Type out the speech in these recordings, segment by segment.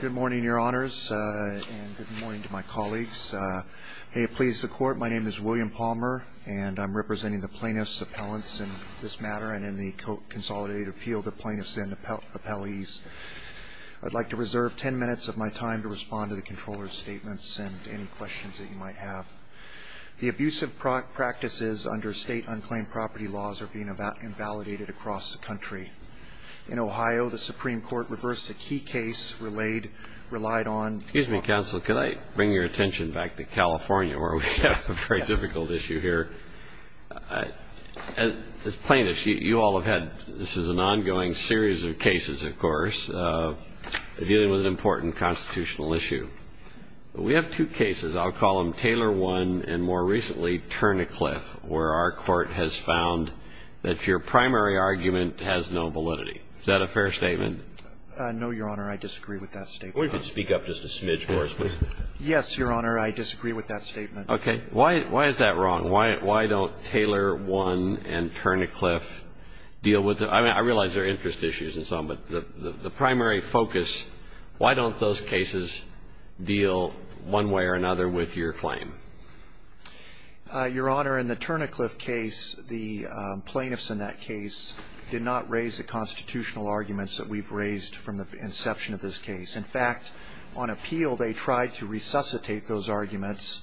Good morning, Your Honors, and good morning to my colleagues. May it please the Court, my name is William Palmer, and I'm representing the Plaintiffs' Appellants in this matter and in the Consolidated Appeal to Plaintiffs and Appellees. I'd like to reserve ten minutes of my time to respond to the Comptroller's statements and any questions that you might have. The abusive practices under state unclaimed property laws are being invalidated across the country. In Ohio, the Supreme Court reversed a key case relayed relied on Excuse me, Counsel, can I bring your attention back to California where we have a very difficult issue here? As plaintiffs, you all have had, this is an ongoing series of cases, of course, dealing with an important constitutional issue. We have two cases, I'll call them Taylor 1 and more recently Turn a Cliff, where our court has found that your primary argument has no validity. Is that a fair statement? No, Your Honor. I disagree with that statement. We could speak up just a smidge more. Yes, Your Honor. I disagree with that statement. Okay. Why is that wrong? Why don't Taylor 1 and Turn a Cliff deal with it? I realize there are interest issues and so on, but the primary focus, why don't those cases deal one way or another with your claim? Your Honor, in the Turn a Cliff case, the plaintiffs in that case did not raise the constitutional arguments that we've raised from the inception of this case. In fact, on appeal, they tried to resuscitate those arguments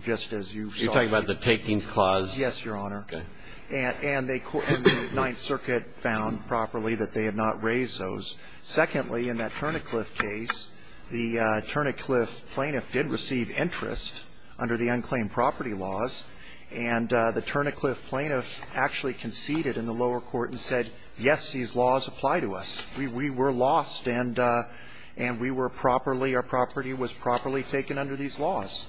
just as you saw. You're talking about the takings clause? Yes, Your Honor. Okay. And the Ninth Circuit found properly that they had not raised those. Secondly, in that Turn a Cliff case, the Turn a Cliff plaintiff did receive interest under the unclaimed property laws, and the Turn a Cliff plaintiff actually conceded in the lower court and said, yes, these laws apply to us. We were lost and we were properly, our property was properly taken under these laws.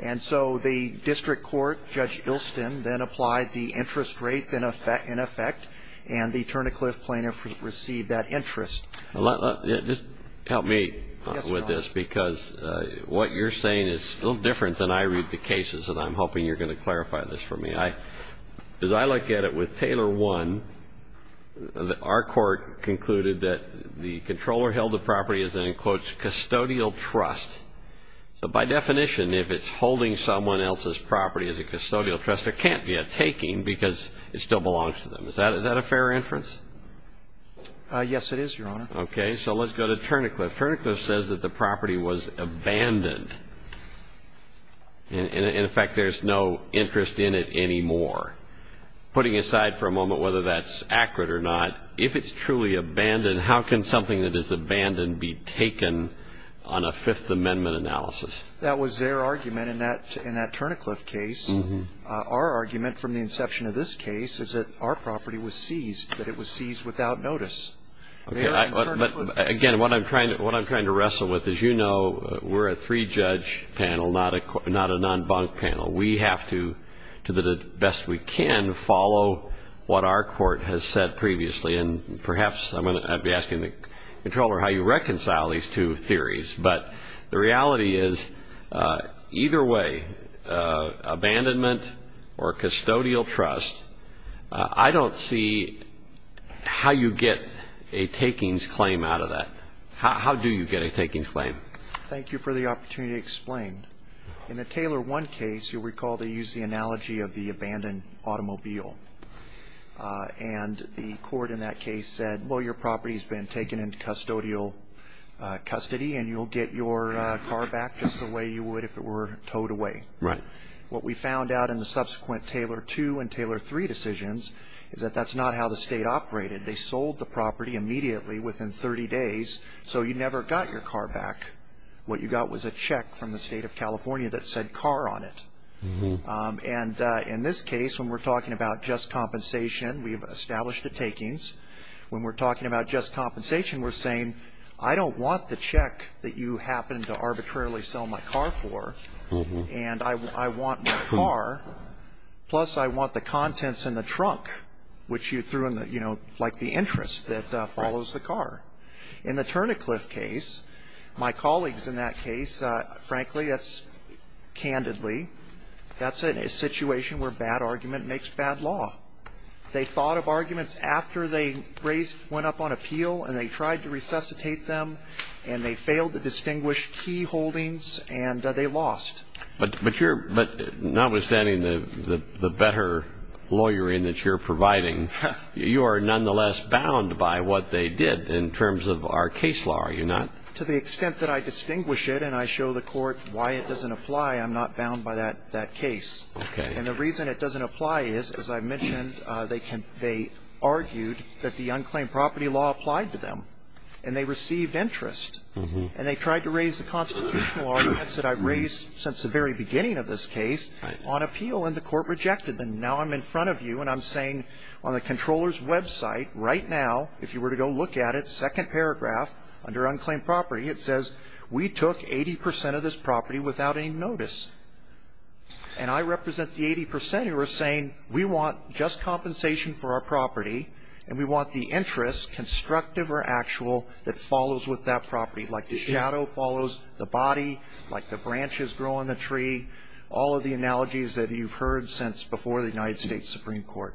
And so the district court, Judge Ilston, then applied the interest rate in effect, and the Turn a Cliff plaintiff received that interest. Just help me with this, because what you're saying is a little different than I read the cases, and I'm hoping you're going to clarify this for me. As I look at it, with Taylor 1, our court concluded that the controller held the property as an, in quotes, custodial trust. So by definition, if it's holding someone else's property as a custodial trust, there can't be a taking because it still belongs to them. Is that a fair inference? Yes, it is, Your Honor. Okay. So let's go to Turn a Cliff. Turn a Cliff says that the property was abandoned. In effect, there's no interest in it anymore. Putting aside for a moment whether that's accurate or not, if it's truly abandoned, how can something that is abandoned be taken on a Fifth Amendment analysis? That was their argument in that Turn a Cliff case. Our argument from the inception of this case is that our property was seized, that it was seized without notice. Again, what I'm trying to wrestle with, as you know, we're a three-judge panel, not a non-bunk panel. We have to, to the best we can, follow what our court has said previously. And perhaps I'm going to be asking the Comptroller how you reconcile these two theories. But the reality is either way, abandonment or custodial trust, I don't see how you get a takings claim out of that. How do you get a takings claim? Thank you for the opportunity to explain. In the Taylor 1 case, you'll recall they used the analogy of the abandoned automobile. And the court in that case said, well, your property has been taken into custodial custody, and you'll get your car back just the way you would if it were towed away. Right. What we found out in the subsequent Taylor 2 and Taylor 3 decisions is that that's not how the state operated. They sold the property immediately within 30 days, so you never got your car back. What you got was a check from the state of California that said car on it. And in this case, when we're talking about just compensation, we've established a takings. When we're talking about just compensation, we're saying, I don't want the check that you happened to arbitrarily sell my car for, and I want my car, plus I want the contents in the trunk, which you threw in the, you know, like the interest that follows the car. In the Turnicliffe case, my colleagues in that case, frankly, that's candidly, that's a situation where bad argument makes bad law. They thought of arguments after they went up on appeal, and they tried to resuscitate them, and they failed to distinguish key holdings, and they lost. But notwithstanding the better lawyering that you're providing, you are nonetheless bound by what they did in terms of our case law, are you not? To the extent that I distinguish it and I show the court why it doesn't apply, I'm not bound by that case. And the reason it doesn't apply is, as I mentioned, they argued that the unclaimed property law applied to them, and they received interest. And they tried to raise the constitutional arguments that I've raised since the very beginning of this case on appeal, and the court rejected them. Now I'm in front of you, and I'm saying on the controller's website right now, if you were to go look at it, second paragraph under unclaimed property, it says we took 80% of this property without any notice. And I represent the 80% who are saying we want just compensation for our property, and we want the interest, constructive or actual, that follows with that property, like the shadow follows the body, like the branches grow on the tree, all of the analogies that you've heard since before the United States Supreme Court.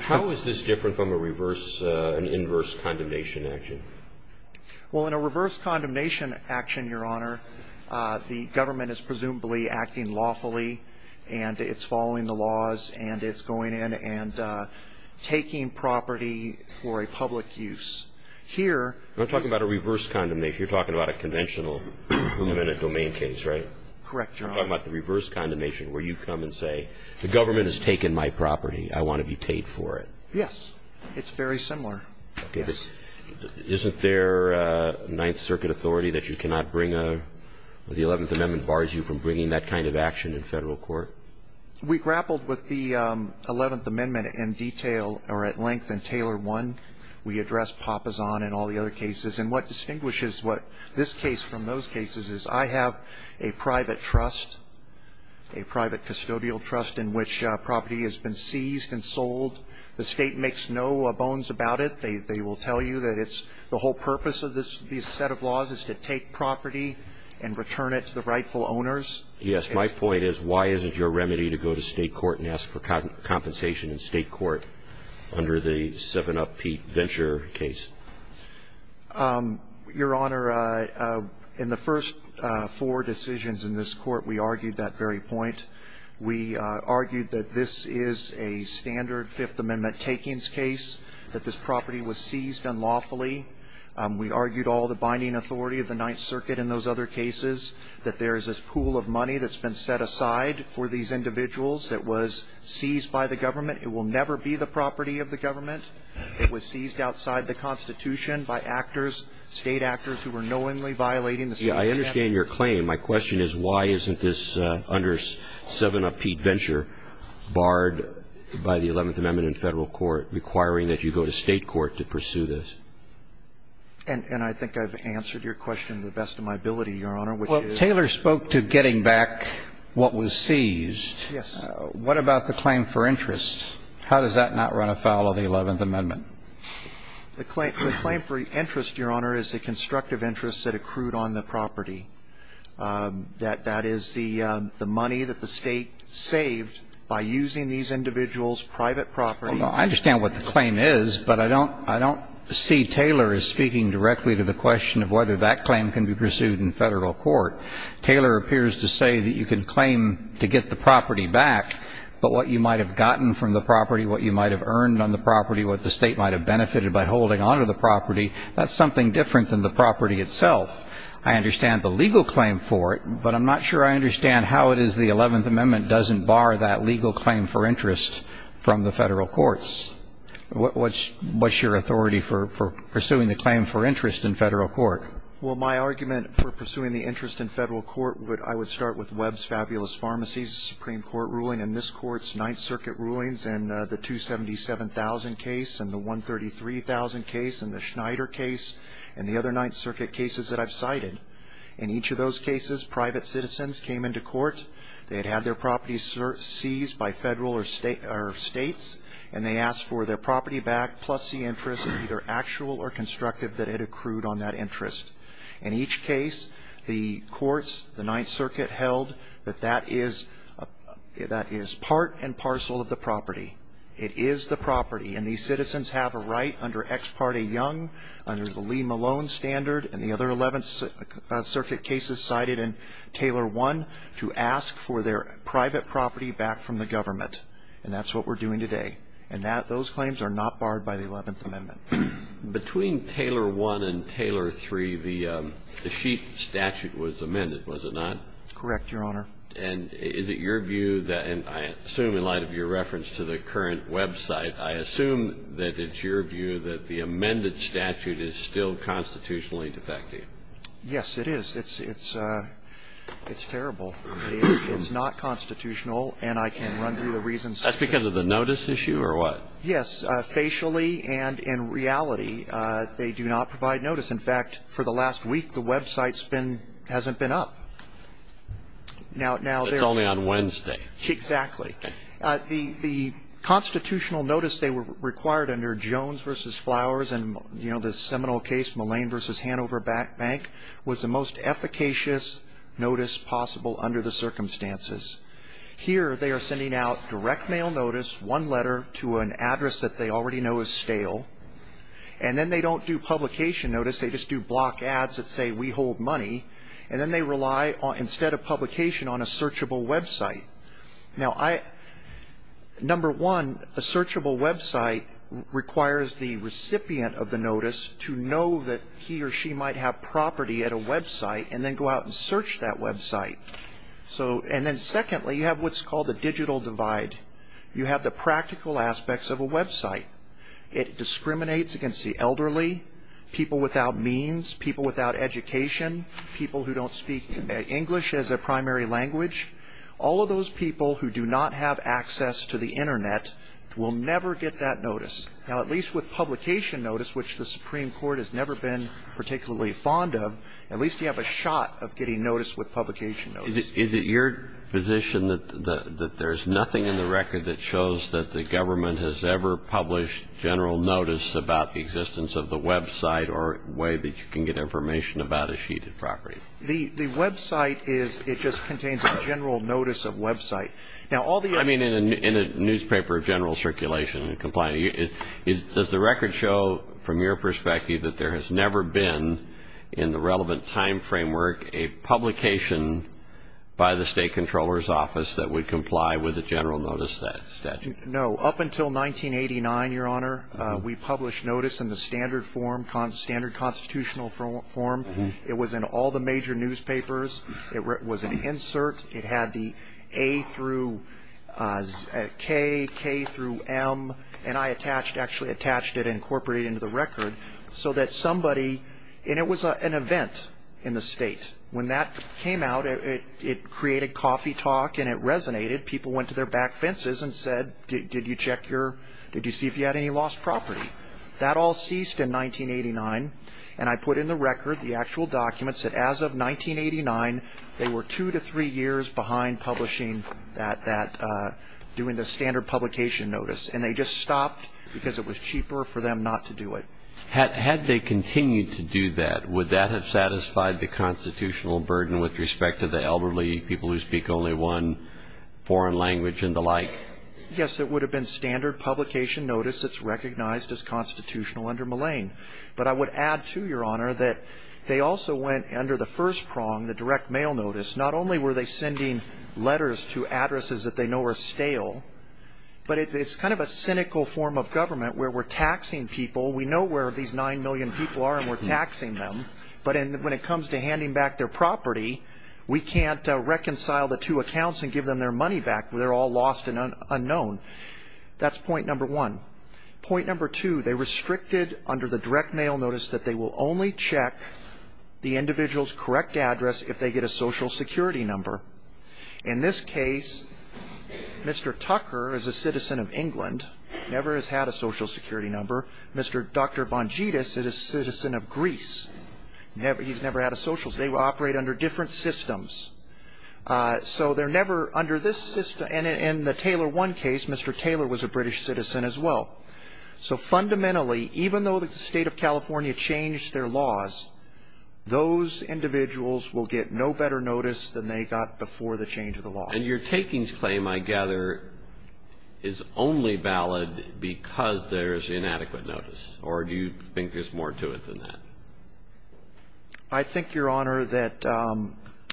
How is this different from a reverse, an inverse condemnation action? Well, in a reverse condemnation action, Your Honor, the government is presumably acting lawfully, and it's following the laws, and it's going in and taking property for a public use. I'm talking about a reverse condemnation. You're talking about a conventional limited domain case, right? Correct, Your Honor. I'm talking about the reverse condemnation where you come and say, the government has taken my property. I want to be paid for it. Yes. It's very similar. Okay. Isn't there a Ninth Circuit authority that you cannot bring a, the Eleventh Amendment bars you from bringing that kind of action in federal court? We grappled with the Eleventh Amendment in detail, or at length, in Taylor 1. We addressed Papasan and all the other cases. And what distinguishes what this case from those cases is I have a private trust, a private custodial trust in which property has been seized and sold. The State makes no bones about it. They will tell you that it's the whole purpose of this set of laws is to take property and return it to the rightful owners. Yes. My point is, why isn't your remedy to go to State court and ask for compensation in State court under the 7-Up Pete Venture case? Your Honor, in the first four decisions in this court, we argued that very point. We argued that this is a standard Fifth Amendment takings case, that this property was seized unlawfully. We argued all the binding authority of the Ninth Circuit in those other cases, that there is this pool of money that's been set aside for these individuals that was seized by the government. It will never be the property of the government. It was seized outside the Constitution by actors, State actors, who were knowingly violating the State's mandate. Yeah, I understand your claim. My question is, why isn't this under 7-Up Pete Venture barred by the Eleventh Amendment in Federal court requiring that you go to State court to pursue this? And I think I've answered your question to the best of my ability, Your Honor, which is – Well, Taylor spoke to getting back what was seized. Yes. What about the claim for interest? How does that not run afoul of the Eleventh Amendment? The claim for interest, Your Honor, is the constructive interest that accrued on the property. That is the money that the State saved by using these individuals' private property. Well, I understand what the claim is, but I don't see Taylor as speaking directly to the question of whether that claim can be pursued in Federal court. Taylor appears to say that you can claim to get the property back, but what you might have gotten from the property, what you might have earned on the property, what the State might have benefited by holding onto the property, that's something different than the property itself. I understand the legal claim for it, but I'm not sure I understand how it is the Eleventh Amendment doesn't bar that legal claim for interest from the Federal courts. What's your authority for pursuing the claim for interest in Federal court? Well, my argument for pursuing the interest in Federal court would – I would start with Webb's Fabulous Pharmacies Supreme Court ruling and this Court's Ninth Circuit rulings and the 277,000 case and the 133,000 case and the Schneider case and the other Ninth Circuit cases that I've cited. In each of those cases, private citizens came into court. They had had their properties seized by Federal or States, and they asked for their property back plus the interest, either actual or constructive, that it accrued on that interest. In each case, the courts, the Ninth Circuit held that that is – that is part and parcel of the property. It is the property, and these citizens have a right under Ex Parte Young, under the Lee Malone standard, and the other Eleventh Circuit cases cited in Taylor I, to ask for their private property back from the government. And that's what we're doing today. And that – those claims are not barred by the Eleventh Amendment. Breyer. Between Taylor I and Taylor III, the Schieff statute was amended, was it not? Correct, Your Honor. And is it your view that – and I assume in light of your reference to the current website, I assume that it's your view that the amended statute is still constitutionally defective? Yes, it is. It's – it's terrible. It's not constitutional, and I can run through the reasons. That's because of the notice issue or what? Yes. Facially and in reality, they do not provide notice. In fact, for the last week, the website's been – hasn't been up. It's only on Wednesday. Exactly. The constitutional notice they required under Jones v. Flowers and, you know, the seminal case, Mullane v. Hanover Bank, was the most efficacious notice possible under the circumstances. Here, they are sending out direct mail notice, one letter to an address that they already know is stale. And then they don't do publication notice. They just do block ads that say, we hold money. And then they rely, instead of publication, on a searchable website. Now, I – number one, a searchable website requires the recipient of the notice to know that he or she might have property at a website and then go out and search that website. So – and then secondly, you have what's called the digital divide. You have the practical aspects of a website. It discriminates against the elderly, people without means, people without education, people who don't speak English as a primary language. All of those people who do not have access to the Internet will never get that notice. Now, at least with publication notice, which the Supreme Court has never been Is it your position that there's nothing in the record that shows that the government has ever published general notice about the existence of the website or a way that you can get information about a sheet of property? The website is – it just contains a general notice of website. Now, all the other – I mean, in a newspaper of general circulation and compliance, does the record show, from your perspective, that there has never been, in the relevant time framework, a publication by the state comptroller's office that would comply with a general notice statute? No. Up until 1989, Your Honor, we published notice in the standard form, standard constitutional form. It was in all the major newspapers. It was an insert. It had the A through K, K through M, and I attached – actually attached it and incorporated it into the record so that somebody – and it was an event in the state. When that came out, it created coffee talk and it resonated. People went to their back fences and said, did you check your – did you see if you had any lost property? That all ceased in 1989, and I put in the record, the actual documents, that as of 1989, they were two to three years behind publishing that – doing the standard publication notice. And they just stopped because it was cheaper for them not to do it. Had they continued to do that, would that have satisfied the constitutional burden with respect to the elderly, people who speak only one foreign language and the like? Yes. It would have been standard publication notice that's recognized as constitutional under Millane. But I would add, too, Your Honor, that they also went under the first prong, the direct mail notice. Not only were they sending letters to addresses that they know are stale, but it's kind of a cynical form of government where we're taxing people. We know where these nine million people are and we're taxing them. But when it comes to handing back their property, we can't reconcile the two accounts and give them their money back. They're all lost and unknown. That's point number one. Point number two, they restricted under the direct mail notice that they will only check the individual's correct address if they get a Social Security number. In this case, Mr. Tucker is a citizen of England, never has had a Social Security number. Mr. Dr. Von Jetus is a citizen of Greece. He's never had a Social Security number. They operate under different systems. So they're never under this system. And in the Taylor 1 case, Mr. Taylor was a British citizen as well. So fundamentally, even though the State of California changed their laws, those individuals will get no better notice than they got before the change of the law. And your takings claim, I gather, is only valid because there's inadequate notice, or do you think there's more to it than that? I think, Your Honor, that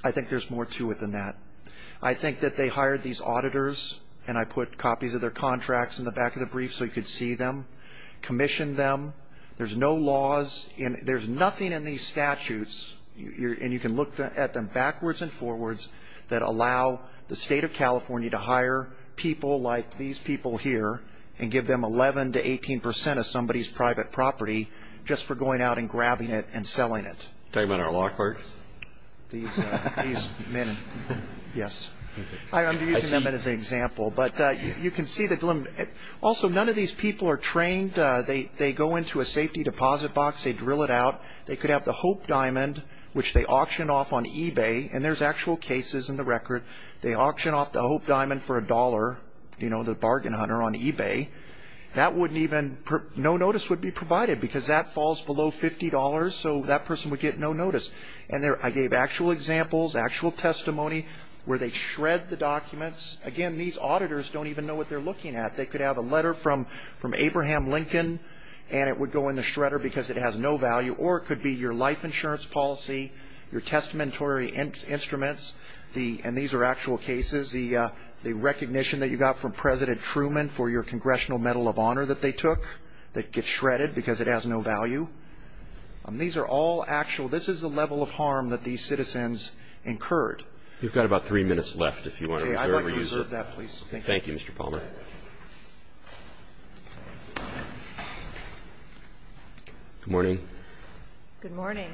I think there's more to it than that. I think that they hired these auditors, and I put copies of their contracts in the back of the brief so you could see them, commissioned them. There's no laws. There's nothing in these statutes, and you can look at them backwards and allow the State of California to hire people like these people here and give them 11 to 18 percent of somebody's private property just for going out and grabbing it and selling it. Talking about our law clerks? These men. Yes. I'm using them as an example. But you can see the dilemma. Also, none of these people are trained. They go into a safety deposit box. They drill it out. They could have the Hope Diamond, which they auctioned off on eBay, and there's actual cases in the record. They auctioned off the Hope Diamond for a dollar, you know, the bargain hunter on eBay. No notice would be provided because that falls below $50, so that person would get no notice. I gave actual examples, actual testimony where they shred the documents. Again, these auditors don't even know what they're looking at. They could have a letter from Abraham Lincoln, and it would go in the shredder because it has no value, or it could be your life insurance policy, your testamentary instruments, and these are actual cases, the recognition that you got from President Truman for your Congressional Medal of Honor that they took that gets shredded because it has no value. These are all actual. This is the level of harm that these citizens incurred. You've got about three minutes left if you want to reserve or use it. Okay, I'd like to reserve that, please. Thank you. Thank you, Mr. Palmer. Good morning. Good morning.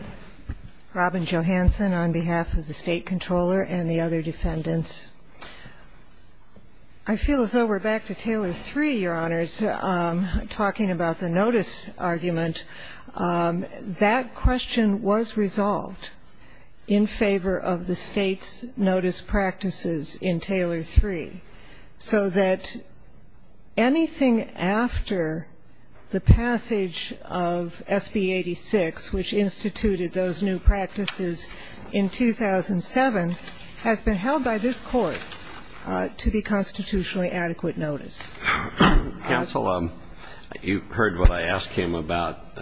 Robin Johansen on behalf of the State Comptroller and the other defendants. I feel as though we're back to Taylor III, Your Honors, talking about the notice argument. That question was resolved in favor of the State's notice practices in Taylor III, so that anything after the passage of SB 86, which instituted those new practices in 2007, has been held by this Court to be constitutionally adequate notice. Counsel, you heard what I asked him about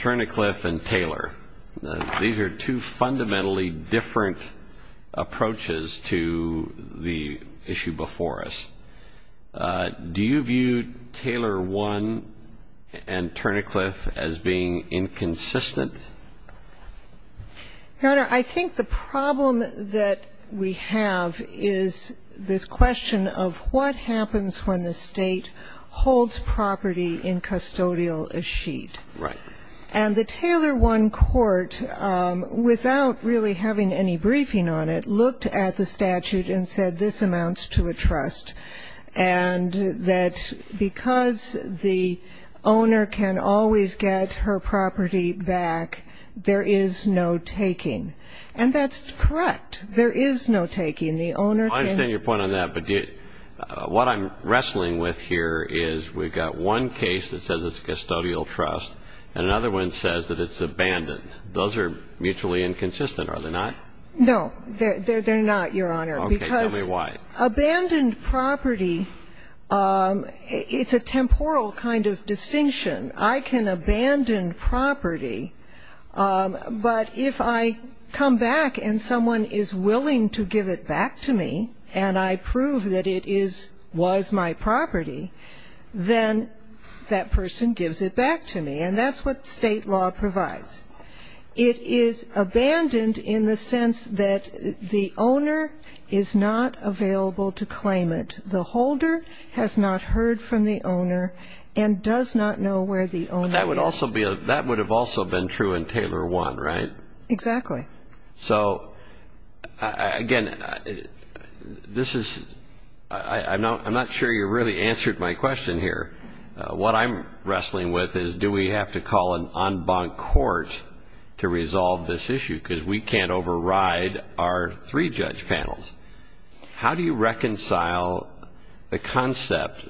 Turnercliffe and Taylor. These are two fundamentally different approaches to the issue before us. Do you view Taylor I and Turnercliffe as being inconsistent? Your Honor, I think the problem that we have is this question of what happens when the State holds property in custodial achete. Right. And the Taylor I Court, without really having any briefing on it, looked at the statute and said this amounts to a trust, and that because the owner can always get her property back, there is no taking. And that's correct. There is no taking. The owner can I understand your point on that, but what I'm wrestling with here is we've got one case that says it's custodial trust, and another one says that it's abandoned. Those are mutually inconsistent, are they not? No. They're not, Your Honor. Okay. Tell me why. Because abandoned property, it's a temporal kind of distinction. I can abandon property, but if I come back and someone is willing to give it back to me, and I prove that it was my property, then that person gives it back to me. And that's what state law provides. It is abandoned in the sense that the owner is not available to claim it. The holder has not heard from the owner and does not know where the owner is. But that would have also been true in Taylor I, right? Exactly. So, again, this is ‑‑ I'm not sure you really answered my question here. What I'm wrestling with is do we have to call an en banc court to resolve this issue, because we can't override our three-judge panels. How do you reconcile the concept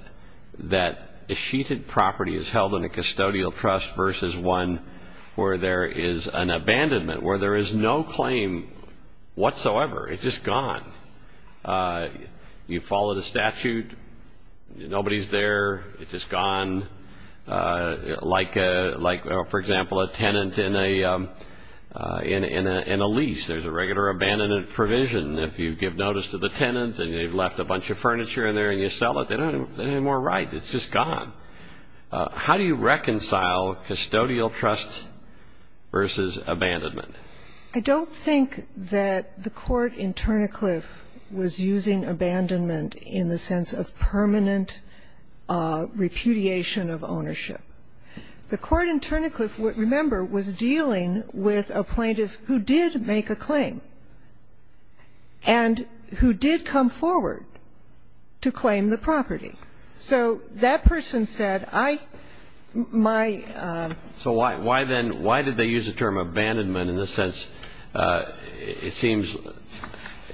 that a sheeted property is held in a custodial trust versus one where there is an abandonment, where there is no claim whatsoever? It's just gone. You follow the statute. Nobody's there. It's just gone. Like, for example, a tenant in a lease. There's a regular abandonment provision. If you give notice to the tenant and they've left a bunch of furniture in there and you sell it, they don't have any more right. It's just gone. How do you reconcile custodial trust versus abandonment? I don't think that the court in Turnicliffe was using abandonment in the sense of permanent repudiation of ownership. The court in Turnicliffe, remember, was dealing with a plaintiff who did make a claim and who did come forward to claim the property. So that person said, I, my. So why then, why did they use the term abandonment in the sense, it seems,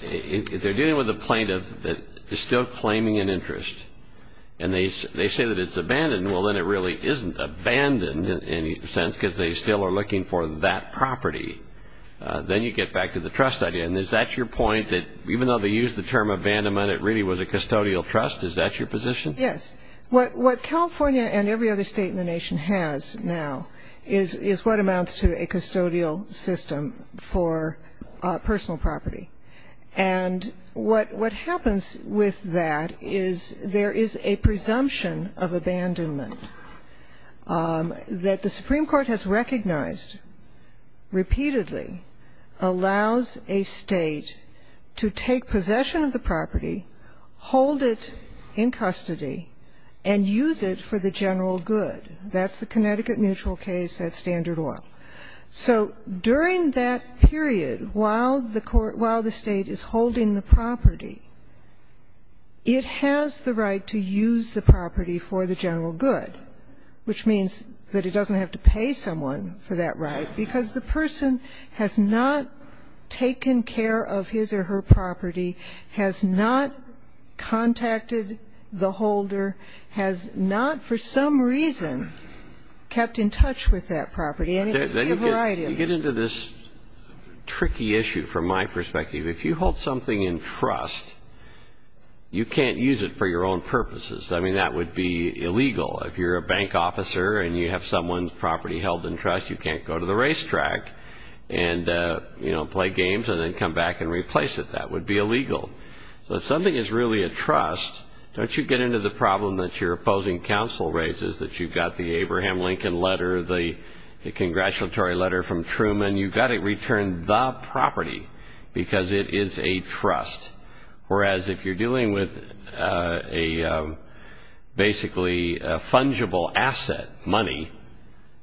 if they're dealing with a plaintiff that is still claiming an interest and they say that it's abandoned, well, then it really isn't abandoned, in a sense, because they still are looking for that property. Then you get back to the trust idea. And is that your point, that even though they used the term abandonment, it really was a custodial trust? Is that your position? Yes. What California and every other state in the nation has now is what amounts to a custodial system for personal property. And what happens with that is there is a presumption of abandonment that the Supreme Court has recognized repeatedly allows a state to take possession of the property, hold it in custody, and use it for the general good. That's the Connecticut Mutual case at Standard Oil. So during that period, while the state is holding the property, it has the right to use the property for the general good, which means that it doesn't have to pay someone for that right, because the person has not taken care of his or her property, has not contacted the holder, has not for some reason kept in touch with that property. And you have a right in that. You get into this tricky issue from my perspective. If you hold something in trust, you can't use it for your own purposes. I mean, that would be illegal. If you're a bank officer and you have someone's property held in trust, you can't go to the racetrack and play games and then come back and replace it. That would be illegal. So if something is really a trust, don't you get into the problem that your opposing counsel raises that you've got the Abraham Lincoln letter, the congratulatory letter from Truman. You've got to return the property because it is a trust. Whereas if you're dealing with a basically fungible asset, money,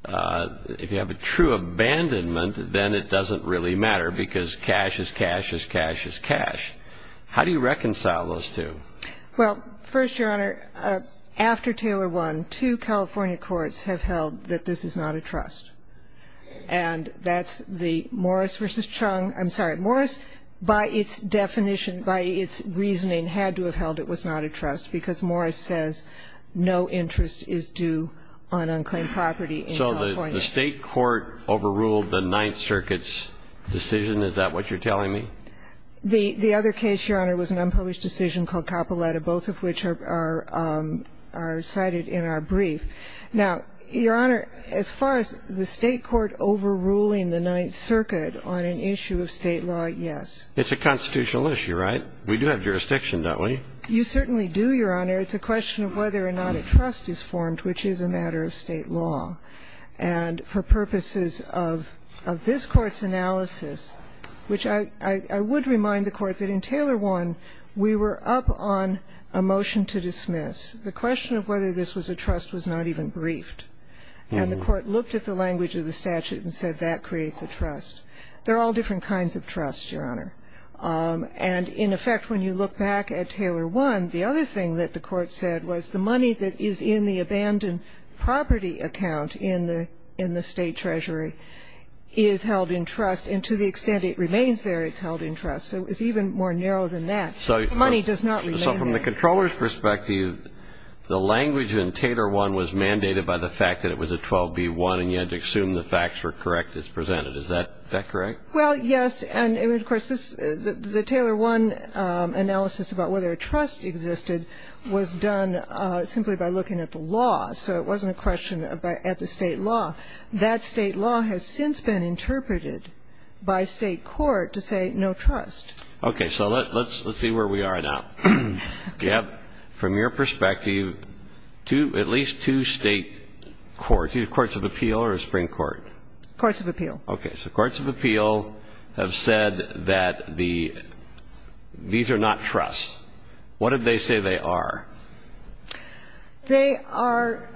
if you have a true abandonment then it doesn't really matter because cash is cash is cash is cash. How do you reconcile those two? Well, first, Your Honor, after Taylor won, two California courts have held that this is not a trust. And that's the Morris v. Chung. I'm sorry. Morris, by its definition, by its reasoning, had to have held it was not a trust because Morris says no interest is due on unclaimed property in California. So the State court overruled the Ninth Circuit's decision? Is that what you're telling me? The other case, Your Honor, was an unpublished decision called Capoletta, both of which are cited in our brief. Now, Your Honor, as far as the State court overruling the Ninth Circuit on an issue of State law, yes. It's a constitutional issue, right? We do have jurisdiction, don't we? You certainly do, Your Honor. It's a question of whether or not a trust is formed, which is a matter of State law. And for purposes of this Court's analysis, which I would remind the Court that in Taylor won, we were up on a motion to dismiss. The question of whether this was a trust was not even briefed. And the Court looked at the language of the statute and said that creates a trust. There are all different kinds of trusts, Your Honor. And, in effect, when you look back at Taylor won, the other thing that the Court said was the money that is in the abandoned property account in the State treasury is held in trust, and to the extent it remains there, it's held in trust. So it's even more narrow than that. The money does not remain there. From the controller's perspective, the language in Taylor won was mandated by the fact that it was a 12B1 and you had to assume the facts were correct as presented. Is that correct? Well, yes. And, of course, the Taylor won analysis about whether a trust existed was done simply by looking at the law. So it wasn't a question at the State law. That State law has since been interpreted by State court to say no trust. Okay. So let's see where we are now. You have, from your perspective, at least two State courts, either courts of appeal or a Supreme Court. Courts of appeal. Okay. So courts of appeal have said that these are not trusts. What did they say they are? They are,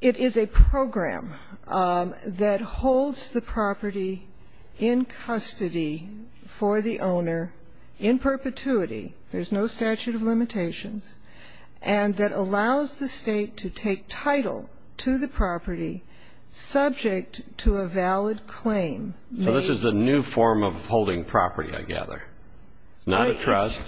it is a program that holds the property in custody for the owner in perpetuity. There's no statute of limitations. And that allows the State to take title to the property subject to a valid claim. So this is a new form of holding property, I gather. It's not a trust.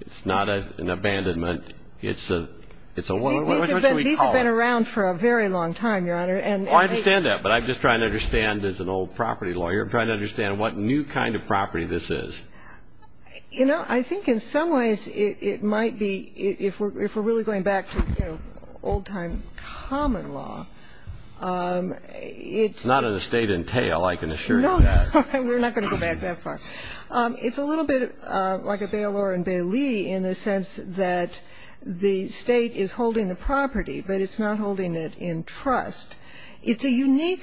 It's not an abandonment. It's a, what should we call it? These have been around for a very long time, Your Honor. Well, I understand that. But I'm just trying to understand, as an old property lawyer, I'm trying to understand what new kind of property this is. You know, I think in some ways it might be, if we're really going back to, you know, old-time common law, it's not a State entail, I can assure you that. No, we're not going to go back that far. It's a little bit like a bailor and bailee in the sense that the State is holding the property, but it's not holding it in trust. It's a unique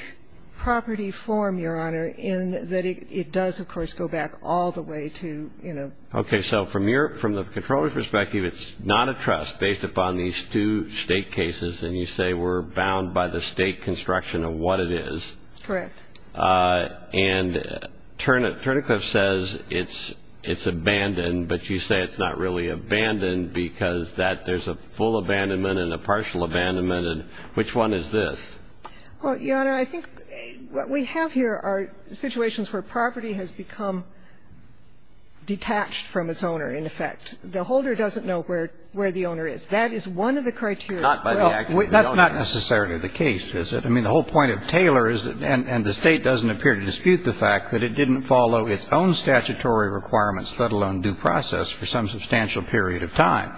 property form, Your Honor, in that it does, of course, go back all the way to, you know. Okay. So from the controller's perspective, it's not a trust based upon these two State cases, and you say we're bound by the State construction of what it is. Correct. And Turnicliffe says it's abandoned, but you say it's not really abandoned because that there's a full abandonment and a partial abandonment. And which one is this? Well, Your Honor, I think what we have here are situations where property has become detached from its owner, in effect. The holder doesn't know where the owner is. That is one of the criteria. Not by the act of the owner. Well, that's not necessarily the case, is it? I mean, the whole point of Taylor is, and the State doesn't appear to dispute the fact that it didn't follow its own statutory requirements, let alone due process, for some substantial period of time.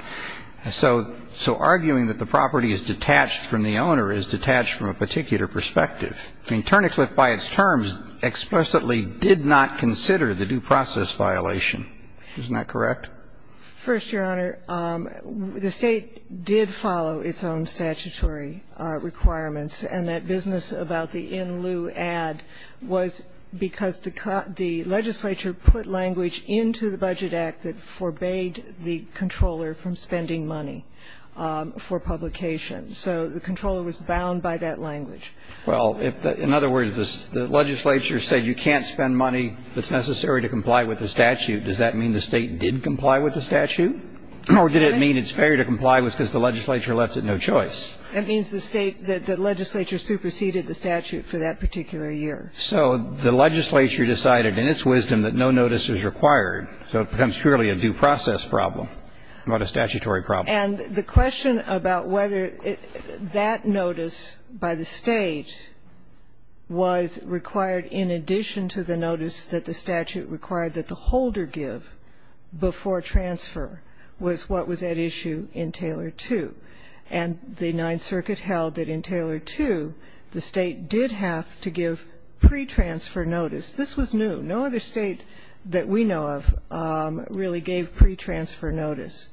So arguing that the property is detached from the owner is detached from a particular perspective. I mean, Turnicliffe by its terms explicitly did not consider the due process violation. Isn't that correct? First, Your Honor, the State did follow its own statutory requirements, and that business about the in-lieu ad was because the legislature put language into the Budget Act that forbade the controller from spending money for publication. So the controller was bound by that language. Well, in other words, the legislature said you can't spend money that's necessary to comply with the statute. Does that mean the State did comply with the statute? Or did it mean it's fair to comply because the legislature left it no choice? That means the State, the legislature, superseded the statute for that particular year. So the legislature decided in its wisdom that no notice is required, so it becomes purely a due process problem, not a statutory problem. And the question about whether that notice by the State was required in addition to the notice that the statute required that the holder give before transfer was what was at issue in Taylor 2. And the Ninth Circuit held that in Taylor 2, the State did have to give pretransfer notice. This was new. No other State that we know of really gave pretransfer notice.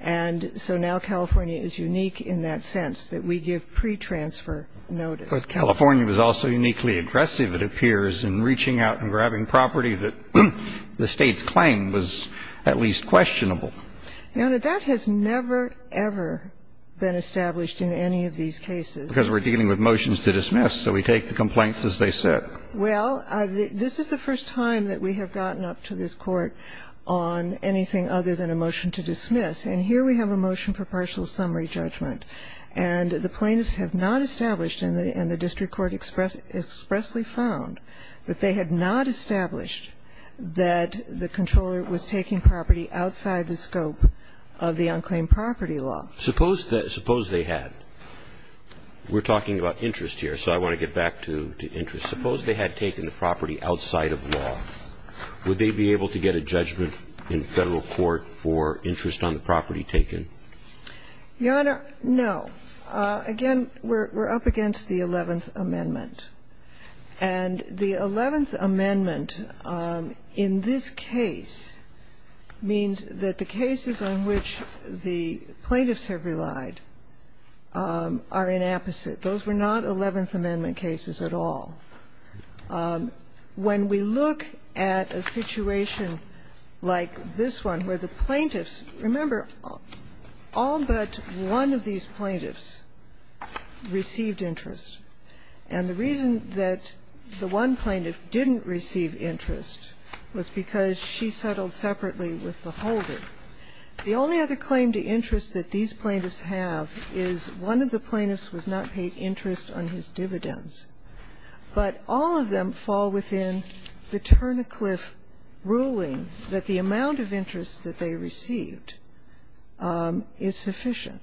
And so now California is unique in that sense, that we give pretransfer notice. But California was also uniquely aggressive, it appears, in reaching out and grabbing property that the State's claim was at least questionable. Now, that has never, ever been established in any of these cases. Because we're dealing with motions to dismiss, so we take the complaints as they sit. Well, this is the first time that we have gotten up to this Court on anything other than a motion to dismiss. And here we have a motion for partial summary judgment. And the plaintiffs have not established, and the district court expressly found, that they had not established that the controller was taking property outside the scope of the unclaimed property law. Suppose they had. We're talking about interest here, so I want to get back to interest. Suppose they had taken the property outside of law. Would they be able to get a judgment in Federal court for interest on the property taken? Your Honor, no. Again, we're up against the Eleventh Amendment. And the Eleventh Amendment in this case means that the cases on which the plaintiffs have relied are inapposite. Those were not Eleventh Amendment cases at all. When we look at a situation like this one, where the plaintiffs, remember, all but one of these plaintiffs received interest. And the reason that the one plaintiff didn't receive interest was because she settled separately with the holder. The only other claim to interest that these plaintiffs have is one of the plaintiffs was not paid interest on his dividends. But all of them fall within the Turn a Cliff ruling that the amount of interest that they received is sufficient.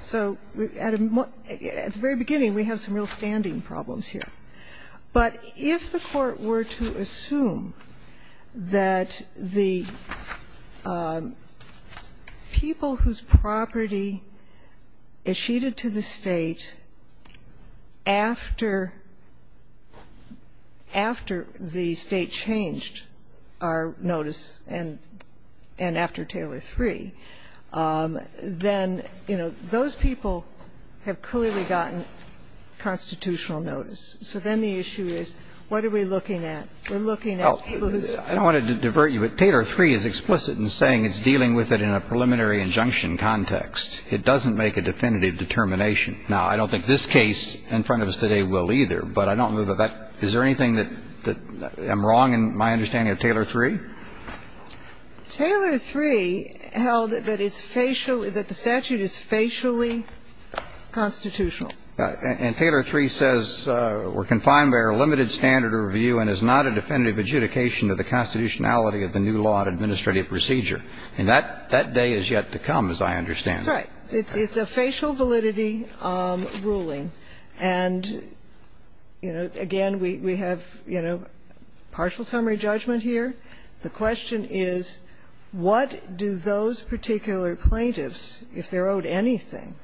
So at the very beginning, we have some real standing problems here. But if the Court were to assume that the people whose property is sheeted to the State after the State changed our notice and after Taylor III, then, you know, those people have clearly gotten constitutional notice. So then the issue is, what are we looking at? We're looking at people whose property is sheeted to the State. I don't want to divert you, but Taylor III is explicit in saying it's dealing with it in a preliminary injunction context. It doesn't make a definitive determination. Now, I don't think this case in front of us today will either, but I don't believe that that – is there anything that I'm wrong in my understanding of Taylor III? Taylor III held that it's facially – that the statute is facially constitutional. And Taylor III says we're confined by our limited standard of review and is not a definitive adjudication to the constitutionality of the new law and administrative procedure. And that day is yet to come, as I understand it. That's right. It's a facial validity ruling. And, you know, again, we have, you know, partial summary judgment here. The question is, what do those particular plaintiffs, if they're owed anything,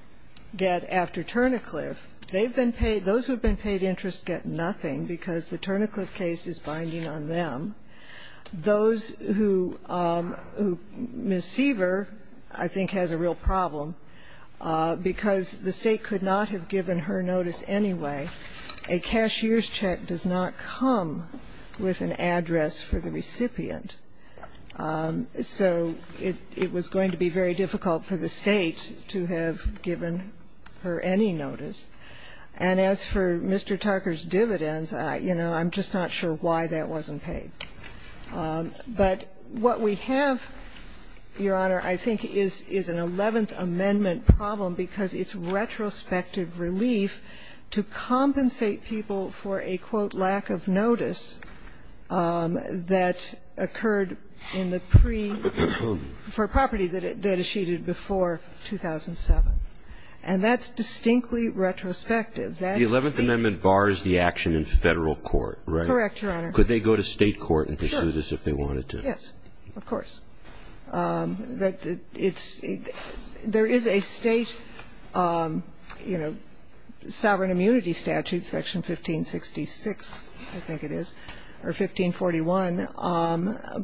get after Turnacliff? They've been paid – those who have been paid interest get nothing because the Turnacliff case is binding on them. Those who – Ms. Seaver, I think, has a real problem because the State could not have given her notice anyway. A cashier's check does not come with an address for the recipient. So it was going to be very difficult for the State to have given her any notice. And as for Mr. Tucker's dividends, you know, I'm just not sure why that wasn't paid. But what we have, Your Honor, I think is an Eleventh Amendment problem because it's retrospective relief to compensate people for a, quote, lack of notice that occurred in the pre – for property that is sheeted before 2007. And that's distinctly retrospective. That's the – The Eleventh Amendment bars the action in Federal court, right? Correct, Your Honor. Could they go to State court and pursue this if they wanted to? Sure. Yes. Of course. That it's – there is a State, you know, sovereign immunity statute, Section 1566, I think it is, or 1541.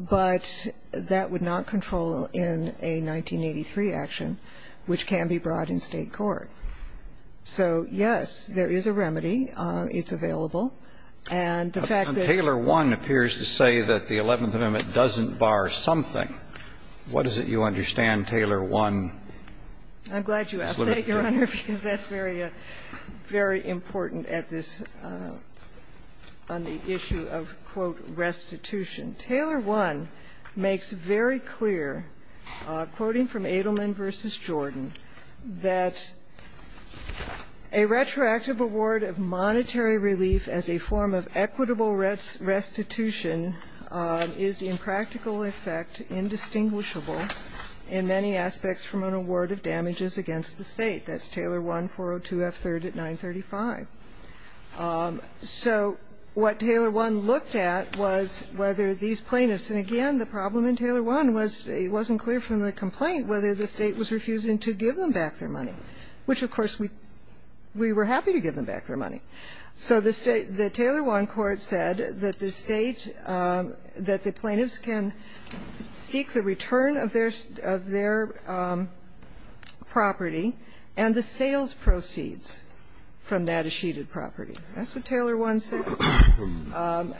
But that would not control in a 1983 action, which can be brought in State court. So, yes, there is a remedy. It's available. And the fact that – And Taylor 1 appears to say that the Eleventh Amendment doesn't bar something. What is it you understand, Taylor 1? I'm glad you asked that, Your Honor, because that's very, very important at this point on the issue of, quote, restitution. Taylor 1 makes very clear, quoting from Edelman v. Jordan, that a retroactive award of monetary relief as a form of equitable restitution is in practical effect indistinguishable in many aspects from an award of damages against the State. That's Taylor 1, 402 F3rd at 935. So what Taylor 1 looked at was whether these plaintiffs – and, again, the problem in Taylor 1 was it wasn't clear from the complaint whether the State was refusing to give them back their money, which, of course, we were happy to give them back their money. So the State – the Taylor 1 court said that the State – that the plaintiffs can seek the return of their property and the sales proceeds from that achieved property. That's what Taylor 1 said,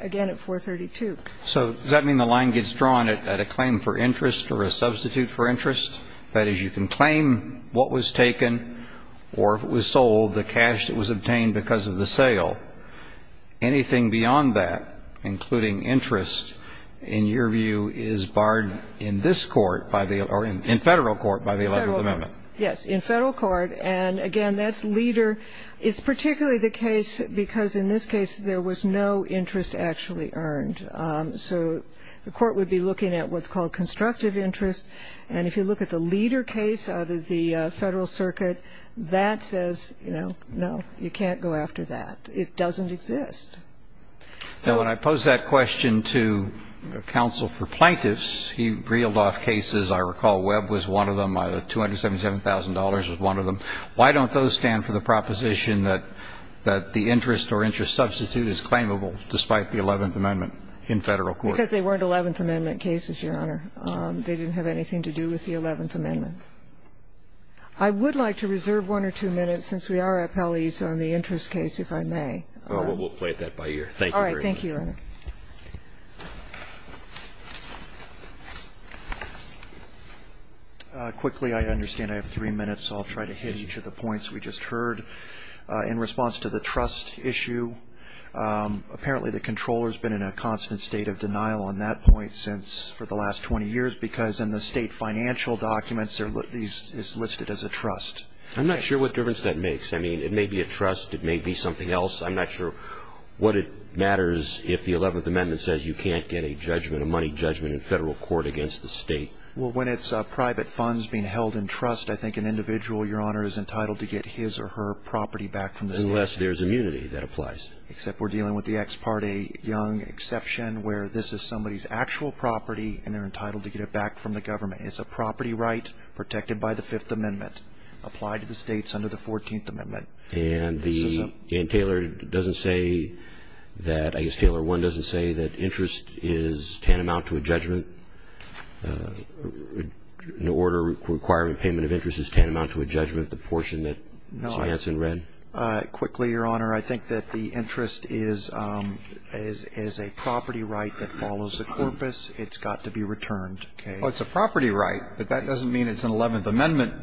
again, at 432. So does that mean the line gets drawn at a claim for interest or a substitute for interest? That is, you can claim what was taken or if it was sold, the cash that was obtained because of the sale. Anything beyond that, including interest, in your view, is barred in this court by the – or in Federal court by the Eleventh Amendment? Yes, in Federal court. And, again, that's leader – it's particularly the case because in this case there was no interest actually earned. So the court would be looking at what's called constructive interest. And if you look at the leader case out of the Federal circuit, that says, you know, you can't go after that. It doesn't exist. So when I posed that question to counsel for plaintiffs, he reeled off cases. I recall Webb was one of them. $277,000 was one of them. Why don't those stand for the proposition that the interest or interest substitute is claimable despite the Eleventh Amendment in Federal court? Because they weren't Eleventh Amendment cases, Your Honor. They didn't have anything to do with the Eleventh Amendment. I would like to reserve one or two minutes, since we are appellees, on the interest case, if I may. Well, we'll play it that by ear. Thank you very much. All right. Thank you, Your Honor. Quickly, I understand I have three minutes, so I'll try to hit each of the points we just heard. In response to the trust issue, apparently the Comptroller has been in a constant state of denial on that point since – for the last 20 years because in the State of the Union, it's been a constant state of denial. I'm not sure what the difference that makes. I mean, it may be a trust. It may be something else. I'm not sure what it matters if the Eleventh Amendment says you can't get a judgment, a money judgment in Federal court against the State. Well, when it's private funds being held in trust, I think an individual, Your Honor, is entitled to get his or her property back from the State of the Union. Unless there's immunity. That applies. Except we're dealing with the ex parte young exception where this is somebody's actual property and they're entitled to get it back from the government. It's a property right protected by the Fifth Amendment, applied to the states under the Fourteenth Amendment. And Taylor doesn't say that – I guess Taylor 1 doesn't say that interest is tantamount to a judgment, an order requiring payment of interest is tantamount to a judgment, the portion that Ms. Manson read? Quickly, Your Honor, I think that the interest is a property right that follows a corpus, it's got to be returned, okay? Well, it's a property right, but that doesn't mean it's an Eleventh Amendment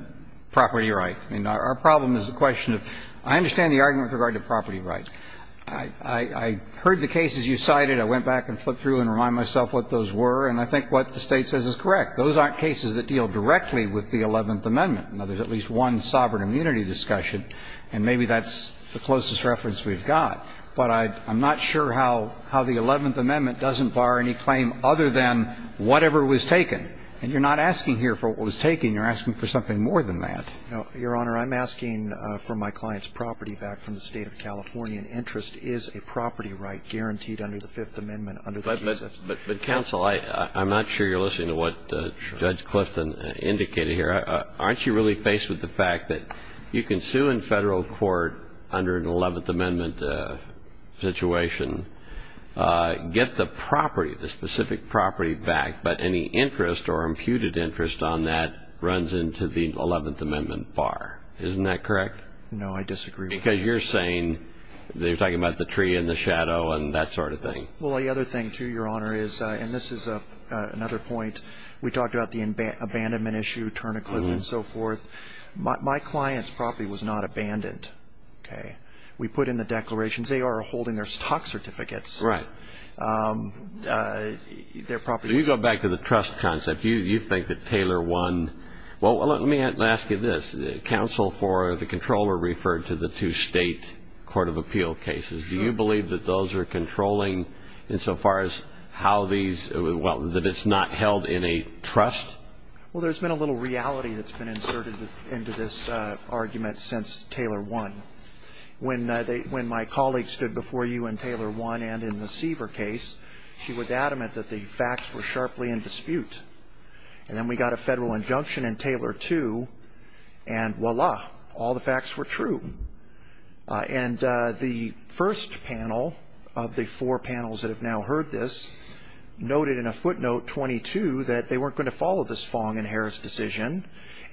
property right. I mean, our problem is the question of – I understand the argument with regard to property rights. I heard the cases you cited, I went back and flipped through and reminded myself what those were, and I think what the State says is correct. Those aren't cases that deal directly with the Eleventh Amendment. Now, there's at least one sovereign immunity discussion, and maybe that's the closest reference we've got. But I'm not sure how the Eleventh Amendment doesn't bar any claim other than whatever was taken. And you're not asking here for what was taken. You're asking for something more than that. No, Your Honor. I'm asking for my client's property back from the State of California. An interest is a property right guaranteed under the Fifth Amendment under the case itself. But, counsel, I'm not sure you're listening to what Judge Clifton indicated here. Aren't you really faced with the fact that you can sue in Federal court under an Eleventh Amendment situation, get the property, the specific property back, but any interest or imputed interest on that runs into the Eleventh Amendment bar. Isn't that correct? No, I disagree with that. Because you're saying, you're talking about the tree and the shadow and that sort of thing. Well, the other thing, too, Your Honor, is, and this is another point, we talked about the abandonment issue, turn a cliff and so forth. My client's property was not abandoned. Okay? We put in the declarations. They are holding their stock certificates. Right. Their property. So you go back to the trust concept. You think that Taylor won. Well, let me ask you this. Counsel for the Comptroller referred to the two State Court of Appeal cases. Do you believe that those are controlling insofar as how these, well, that it's not held in a trust? Well, there's been a little reality that's been inserted into this argument since Taylor won. When my colleague stood before you in Taylor won and in the Seaver case, she was adamant that the facts were sharply in dispute. And then we got a Federal injunction in Taylor too, and voila, all the facts were true. And the first panel of the four panels that have now heard this noted in a footnote 22 that they weren't going to follow this Fong and Harris decision,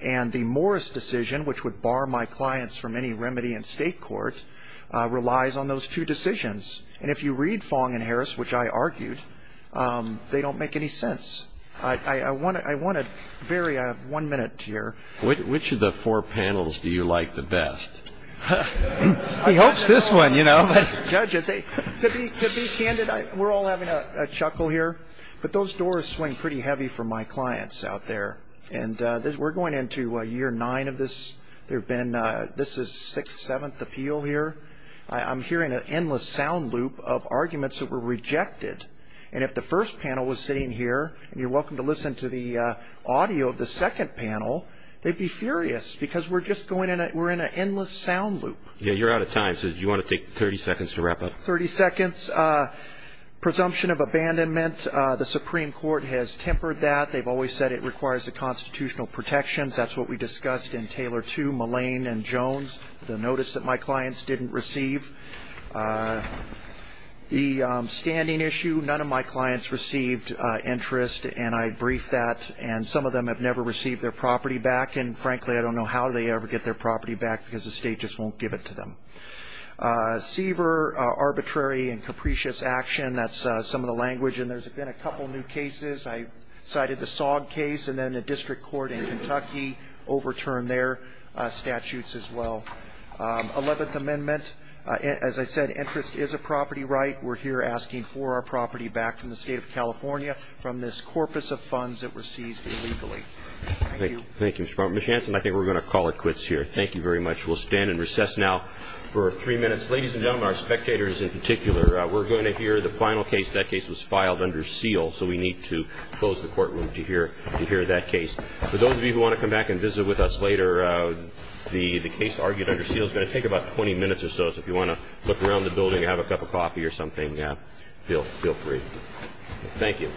and the Morris decision, which would bar my clients from any remedy in state court, relies on those two decisions. And if you read Fong and Harris, which I argued, they don't make any sense. I want a very one-minute here. Which of the four panels do you like the best? He hopes this one, you know. Judges, to be candid, we're all having a chuckle here. But those doors swing pretty heavy for my clients out there. And we're going into year nine of this. This is sixth, seventh appeal here. I'm hearing an endless sound loop of arguments that were rejected. And if the first panel was sitting here, and you're welcome to listen to the audio of the second panel, they'd be furious because we're in an endless sound loop. Yeah, you're out of time. So do you want to take 30 seconds to wrap up? Thirty seconds. Presumption of abandonment. The Supreme Court has tempered that. They've always said it requires the constitutional protections. That's what we discussed in Taylor 2, Mullane and Jones, the notice that my clients didn't receive. The standing issue, none of my clients received interest. And I briefed that. And some of them have never received their property back. And, frankly, I don't know how they ever get their property back because the state just won't give it to them. Seaver, arbitrary and capricious action. That's some of the language. And there's been a couple of new cases. I cited the SOG case, and then the district court in Kentucky overturned their statutes as well. Eleventh Amendment, as I said, interest is a property right. We're here asking for our property back from the state of California from this corpus of funds that were seized illegally. Thank you. Thank you, Mr. Baumgartner. Ms. Hanson, I think we're going to call it quits here. Thank you very much. We'll stand and recess now for three minutes. Ladies and gentlemen, our spectators in particular, we're going to hear the final case. That case was filed under seal, so we need to close the courtroom to hear that case. For those of you who want to come back and visit with us later, the case argued under seal is going to take about 20 minutes or so. So if you want to look around the building and have a cup of coffee or something, feel free. Thank you.